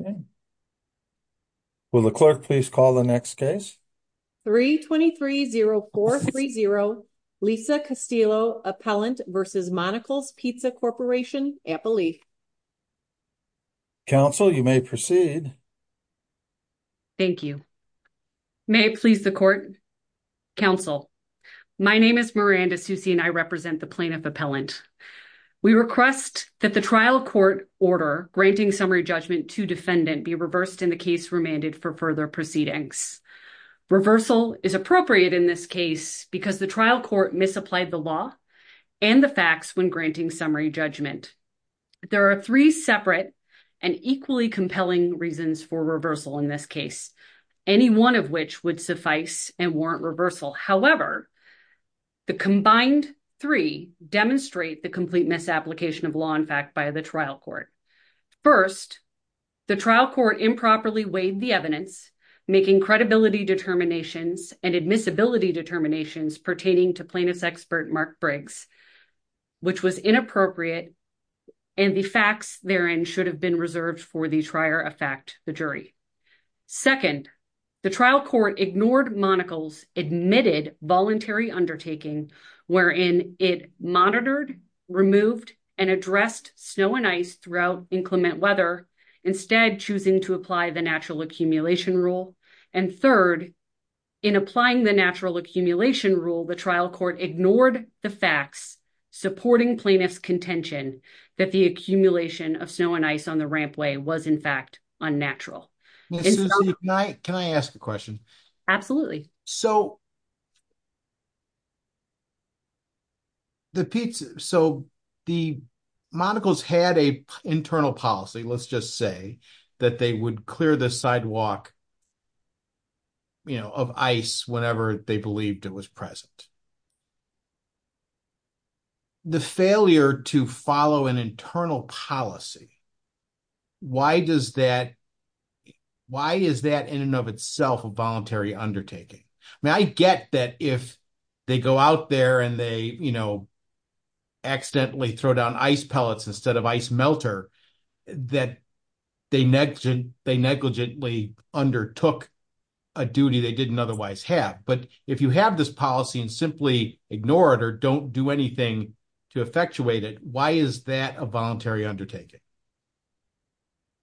okay will the clerk please call the next case 3 23 0 4 3 0 lisa castillo appellant versus monical's pizza corporation apple leaf council you may proceed thank you may it please the court council my name is miranda susie and i represent the appellant we request that the trial court order granting summary judgment to defendant be reversed in the case remanded for further proceedings reversal is appropriate in this case because the trial court misapplied the law and the facts when granting summary judgment there are three separate and equally compelling reasons for reversal in this case any one of which would warrant reversal however the combined three demonstrate the complete misapplication of law in fact by the trial court first the trial court improperly weighed the evidence making credibility determinations and admissibility determinations pertaining to plaintiff's expert mark briggs which was inappropriate and the facts therein should have been reserved for the trier effect the jury second the trial court ignored monical's admitted voluntary undertaking wherein it monitored removed and addressed snow and ice throughout inclement weather instead choosing to apply the natural accumulation rule and third in applying the natural accumulation rule the trial court ignored the facts supporting plaintiff's contention that the accumulation of snow and ice on the rampway was in fact unnatural can i ask a question absolutely so the pizza so the monocles had a internal policy let's just say that they would clear the sidewalk you know of ice whenever they believed it was present the failure to follow an internal policy why does that why is that in and of itself a voluntary undertaking i mean i get that if they go out there and they you know accidentally throw down ice pellets instead of ice melter that they neglected they negligently undertook a duty they didn't otherwise have but if you have this policy and simply ignore it or don't do anything to effectuate it why is that a voluntary undertaking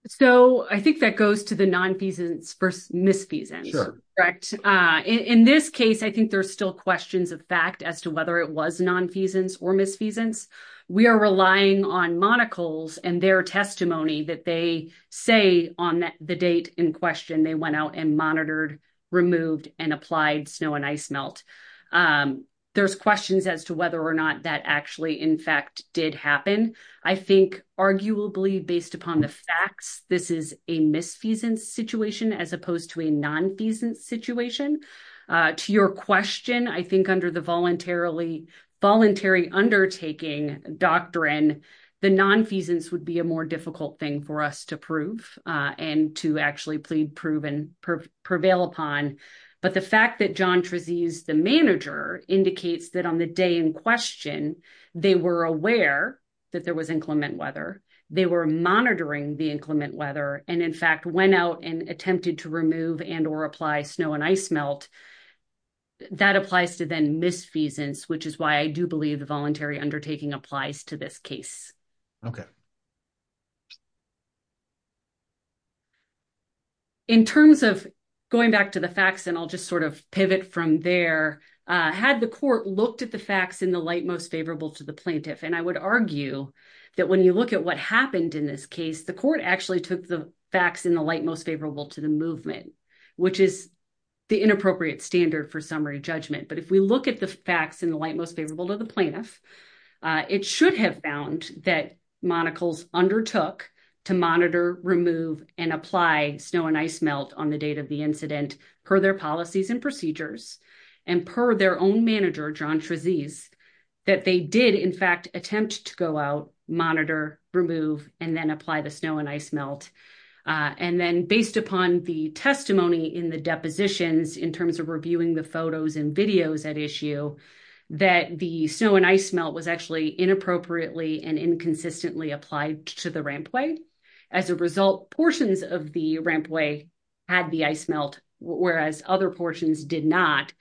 so i think that goes to the non-feasance versus misfeasance correct uh in this case i think there's still questions of fact as to whether it was non-feasance or misfeasance we are relying on monocles and their testimony that they say on the date in question they went out and monitored removed and applied snow and ice melt there's questions as to whether or not that actually in fact did happen i think arguably based upon the facts this is a misfeasance situation as opposed to a non-feasance situation to your question i think under the voluntarily voluntary undertaking doctrine the non-feasance would be a more difficult thing for us to prove and to actually plead prove and prevail upon but the fact that john trezise the manager indicates that on the day in question they were aware that there was inclement weather they were monitoring the inclement weather and in fact went out and attempted to remove and or apply snow and ice melt that applies to then misfeasance which is i do believe the voluntary undertaking applies to this case okay in terms of going back to the facts and i'll just sort of pivot from there uh had the court looked at the facts in the light most favorable to the plaintiff and i would argue that when you look at what happened in this case the court actually took the facts in the light most favorable to the movement which is the inappropriate standard for summary judgment but if we look at the facts in the light most favorable to the plaintiff it should have found that monocles undertook to monitor remove and apply snow and ice melt on the date of the incident per their policies and procedures and per their own manager john trezise that they did in fact attempt to go out monitor remove and then apply the snow and ice melt and then based upon the testimony in the depositions in terms of reviewing the photos and videos at issue that the snow and ice melt was actually inappropriately and inconsistently applied to the rampway as a result portions of the rampway had the ice melt whereas other portions did not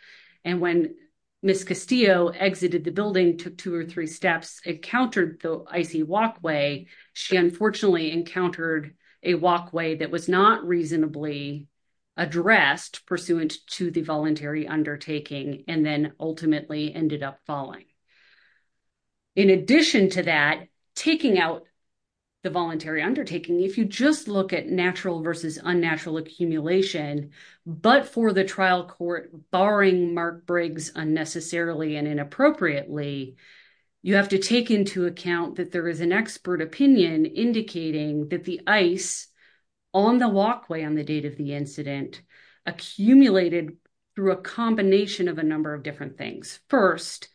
and when miss castillo exited the building took two or three steps encountered the icy walkway she unfortunately encountered a walkway that was not reasonably addressed pursuant to the voluntary undertaking and then ultimately ended up falling in addition to that taking out the voluntary undertaking if you just look at natural versus unnatural accumulation but for the trial court barring mark briggs unnecessarily and inappropriately you have to take into account that there is an expert opinion indicating that the ice on the walkway on the date of the incident accumulated through a combination of a number of different things first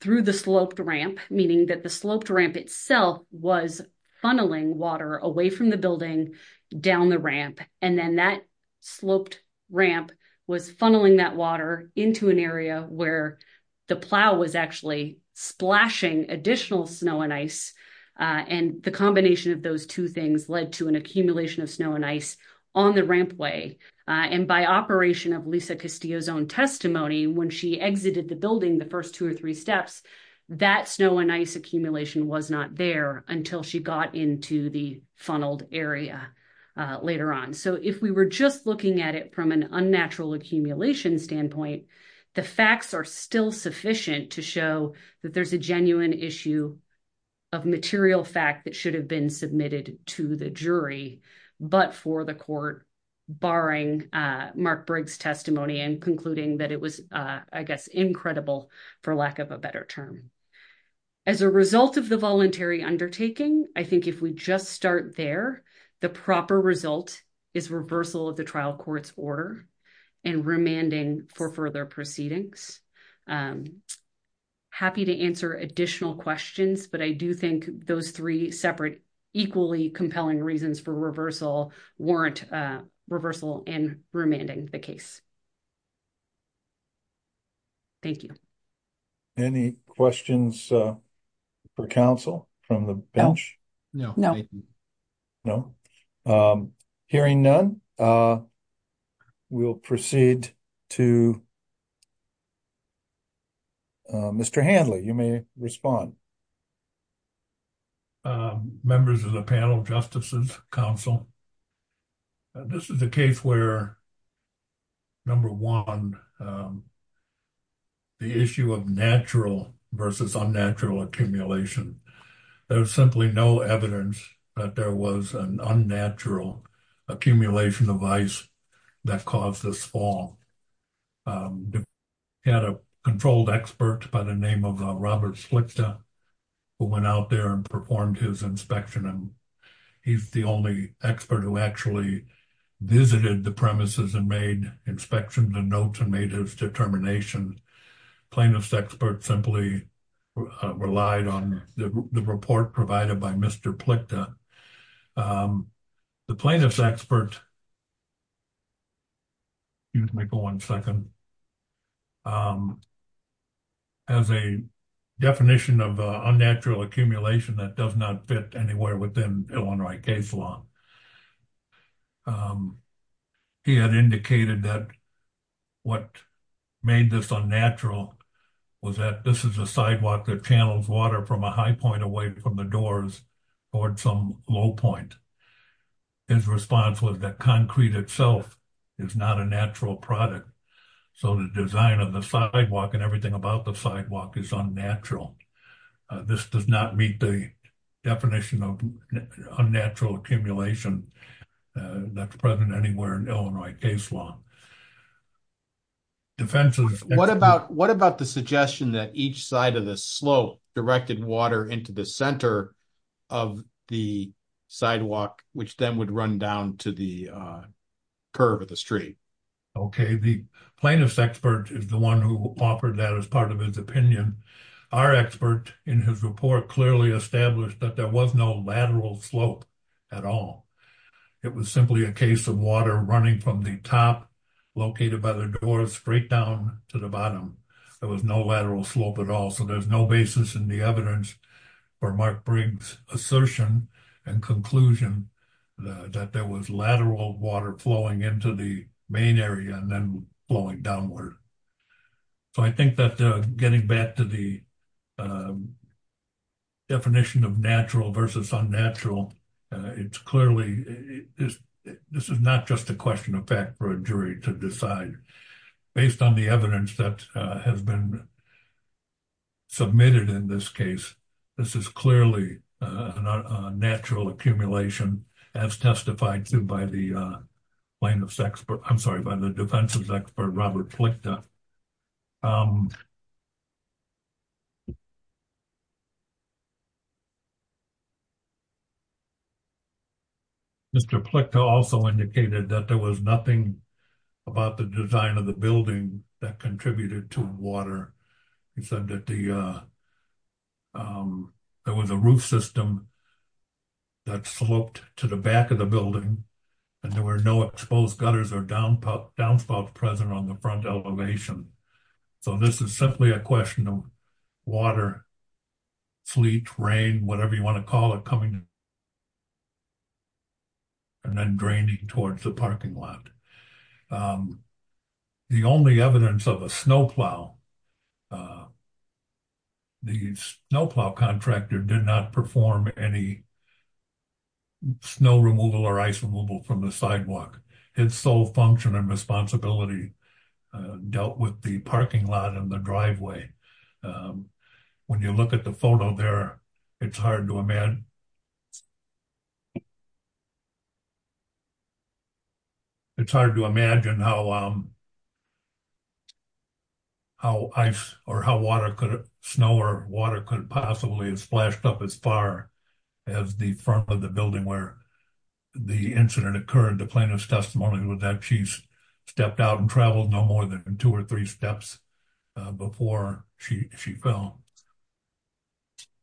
through the sloped ramp meaning that the sloped ramp itself was funneling water away from the building down the ramp and then that sloped ramp was funneling that water into an area where the plow was actually splashing additional snow and ice and the combination of two things led to an accumulation of snow and ice on the rampway and by operation of lisa castillo's own testimony when she exited the building the first two or three steps that snow and ice accumulation was not there until she got into the funneled area later on so if we were just looking at it from an unnatural accumulation standpoint the facts are still sufficient to show that there's a genuine issue of material fact that should have been submitted to the jury but for the court barring uh mark briggs testimony and concluding that it was uh i guess incredible for lack of a better term as a result of the voluntary undertaking i think if we just start there the proper result is reversal of the trial court's order and remanding for further proceedings i'm happy to answer additional questions but i do think those three separate equally compelling reasons for reversal warrant uh reversal and remanding the case thank you any questions uh for counsel from the bench no no no um hearing none uh we'll proceed to mr handley you may respond uh members of the panel justices council this is a case where number one the issue of natural versus unnatural accumulation there's simply no evidence that there was an unnatural accumulation of ice that caused this fall he had a controlled expert by the name of robert slick who went out there and performed his inspection and he's the only expert who actually visited the premises and made inspections and notes and made his determination plaintiff's expert simply relied on the report provided by mr plicta um the plaintiff's expert excuse me for one second um as a definition of unnatural accumulation that does not fit anywhere within illinois case law um he had indicated that what made this unnatural was that this is a sidewalk that channels water from a high point away from the doors toward some low point his response was that concrete itself is not a natural product so the design of the sidewalk and everything about the sidewalk is unnatural this does not meet the definition of unnatural accumulation that's present anywhere in illinois case law defenses what about what about the suggestion that each side of the slope directed water into the center of the sidewalk which then would run down to the curve of the street okay the plaintiff's expert is the one who offered that as part of his opinion our expert in his report clearly established that there was no lateral slope at all it was simply a water running from the top located by the door straight down to the bottom there was no lateral slope at all so there's no basis in the evidence for mark briggs assertion and conclusion that there was lateral water flowing into the main area and then flowing downward so i think that getting back to the definition of natural versus unnatural it's clearly this this is not just a question of fact for a jury to decide based on the evidence that has been submitted in this case this is clearly a natural accumulation as testified to by the plaintiff's expert i'm by the defense's expert robert plicked up um mr plicka also indicated that there was nothing about the design of the building that contributed to water he said that the uh there was a roof system that sloped to the back of the building and there were no exposed gutters or downpout downspouts present on the front elevation so this is simply a question of water fleet rain whatever you want to call it coming and then draining towards the parking lot the only evidence of a snowplow the snowplow contractor did not perform any snow removal or ice removal from the sidewalk its sole function and responsibility dealt with the parking lot in the driveway when you look at the photo there it's hard to imagine it's hard to imagine how um how ice or how water could snow or water could possibly have splashed up as far as the front of the building where the incident occurred the plaintiff's testimony was that she stepped out and traveled no more than two or three steps before she she fell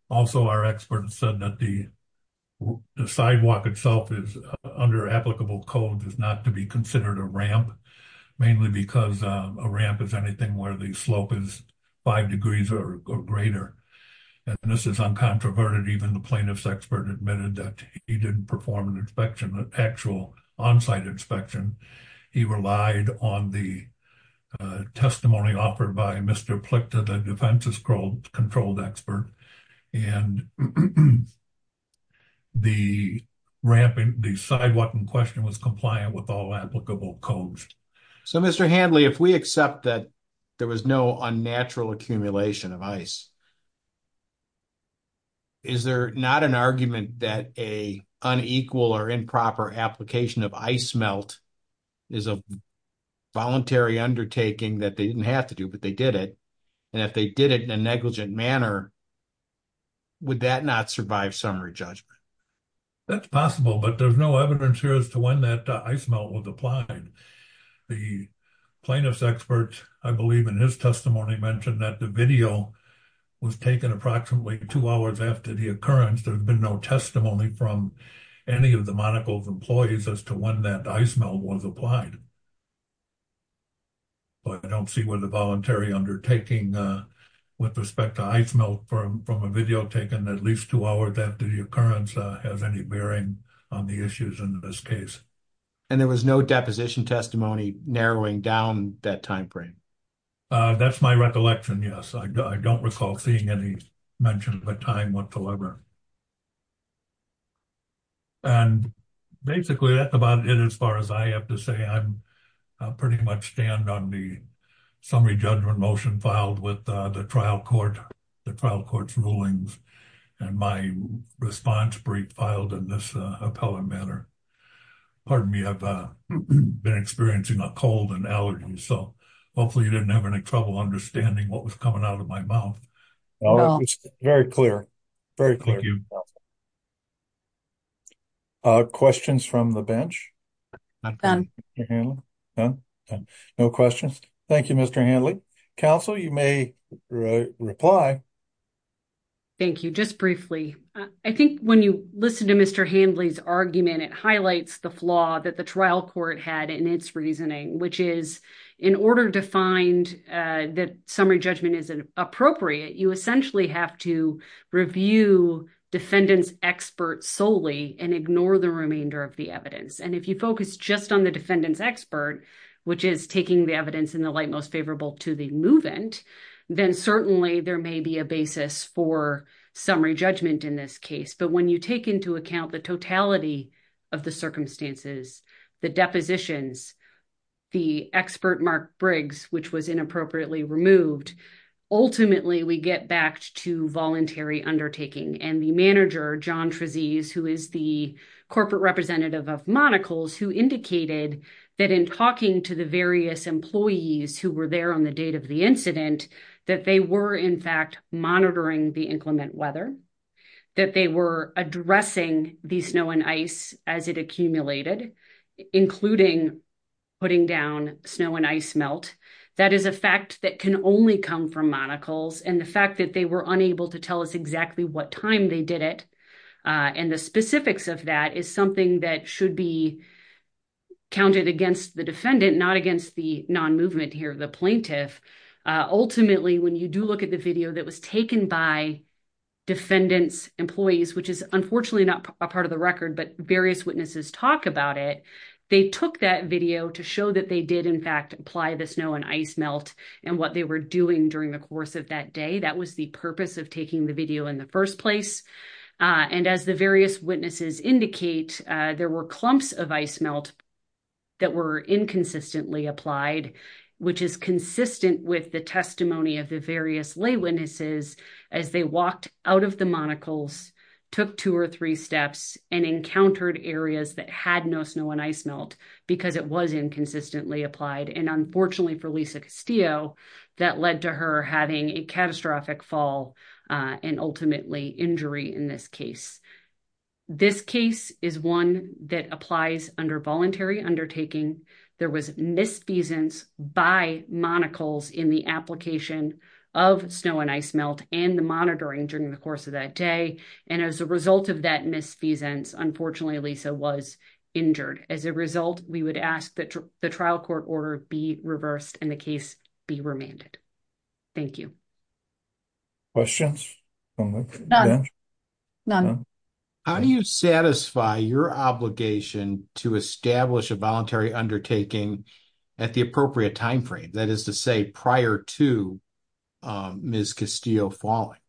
also our expert said that the sidewalk itself is under applicable code is not to be considered a ramp mainly because a ramp is anything where the slope is five degrees or greater and this is uncontroverted even the plaintiff's expert admitted that he didn't perform an inspection an actual on-site inspection he relied on the testimony offered by Mr. Plick to the defense's controlled controlled expert and the ramping the sidewalk in question was compliant with all applicable codes so Mr. Handley if we accept that there was no unnatural accumulation of ice is there not an argument that a unequal or improper application of ice melt is a voluntary undertaking that they didn't have to do but they did it and if they did it in a negligent manner would that not survive summary judgment that's possible but there's no evidence here as to when that ice melt was applied the plaintiff's expert i believe in his testimony mentioned that the video was taken approximately two hours after the occurrence there's been no testimony from any of the monocle of employees as to when that ice melt was applied but i don't see where the voluntary undertaking with respect to ice melt from from a video taken at least two hours after the occurrence has any bearing on the issues in this case and there was no deposition testimony narrowing down that time frame that's my recollection yes i don't recall seeing any mention of a time whatsoever and basically that's about it as far as i have to say i'm pretty much stand on the summary judgment motion filed with the trial court the trial been experiencing a cold and allergy so hopefully you didn't have any trouble understanding what was coming out of my mouth very clear very clear uh questions from the bench no questions thank you mr handley council you may reply thank you just briefly i think when you listen to mr handley's argument it highlights the flaw that the trial court had in its reasoning which is in order to find uh that summary judgment is appropriate you essentially have to review defendant's expert solely and ignore the remainder of the evidence and if you focus just on the defendant's expert which is taking the evidence in the light most favorable to the then certainly there may be a basis for summary judgment in this case but when you take into account the totality of the circumstances the depositions the expert mark briggs which was inappropriately removed ultimately we get back to voluntary undertaking and the manager john trezise who is the corporate representative of monocles who indicated that in talking to the employees who were there on the date of the incident that they were in fact monitoring the inclement weather that they were addressing the snow and ice as it accumulated including putting down snow and ice melt that is a fact that can only come from monocles and the fact that they were unable to tell us exactly what time they did it and the specifics of that is should be counted against the defendant not against the non-movement here the plaintiff ultimately when you do look at the video that was taken by defendants employees which is unfortunately not a part of the record but various witnesses talk about it they took that video to show that they did in fact apply the snow and ice melt and what they were doing during the course of that day that was the purpose of taking the video in the first place and as the various witnesses indicate there were clumps of ice melt that were inconsistently applied which is consistent with the testimony of the various lay witnesses as they walked out of the monocles took two or three steps and encountered areas that had no snow and ice melt because it was inconsistently applied and unfortunately for lisa castillo that led to her having a catastrophic fall and ultimately injury in this case this case is one that applies under voluntary undertaking there was misfeasance by monocles in the application of snow and ice melt and the monitoring during the course of that day and as a result of that misfeasance unfortunately lisa was injured as a result we would ask that the trial court order be reversed and the case be remanded thank you questions none how do you satisfy your obligation to establish a voluntary undertaking at the appropriate time frame that is to say prior to miss castillo falling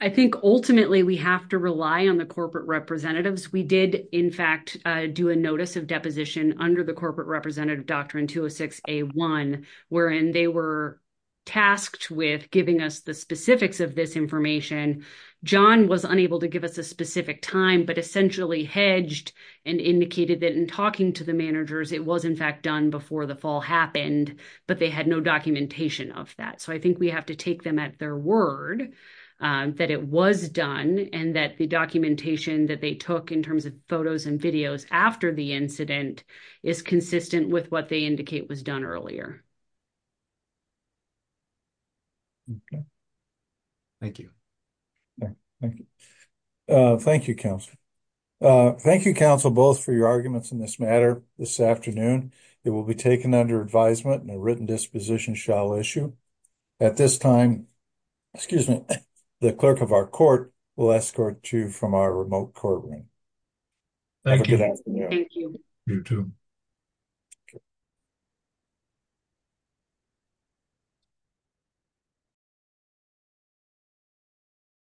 i think ultimately we have to rely on the corporate representatives we did in fact do a notice of deposition under the corporate representative doctrine 206 a1 wherein they were tasked with giving us the specifics of this information john was unable to give us a specific time but essentially hedged and indicated that in talking to the managers it was in fact done before the fall happened but they had no documentation of that so i think we have to take them at their word that it was done and that the documentation that they took in terms of photos and videos after the incident is consistent with what they indicate was earlier thank you thank you thank you council thank you council both for your arguments in this matter this afternoon it will be taken under advisement and a written disposition shall issue at this time excuse me the clerk of our court will escort you from our remote courtroom thank you you too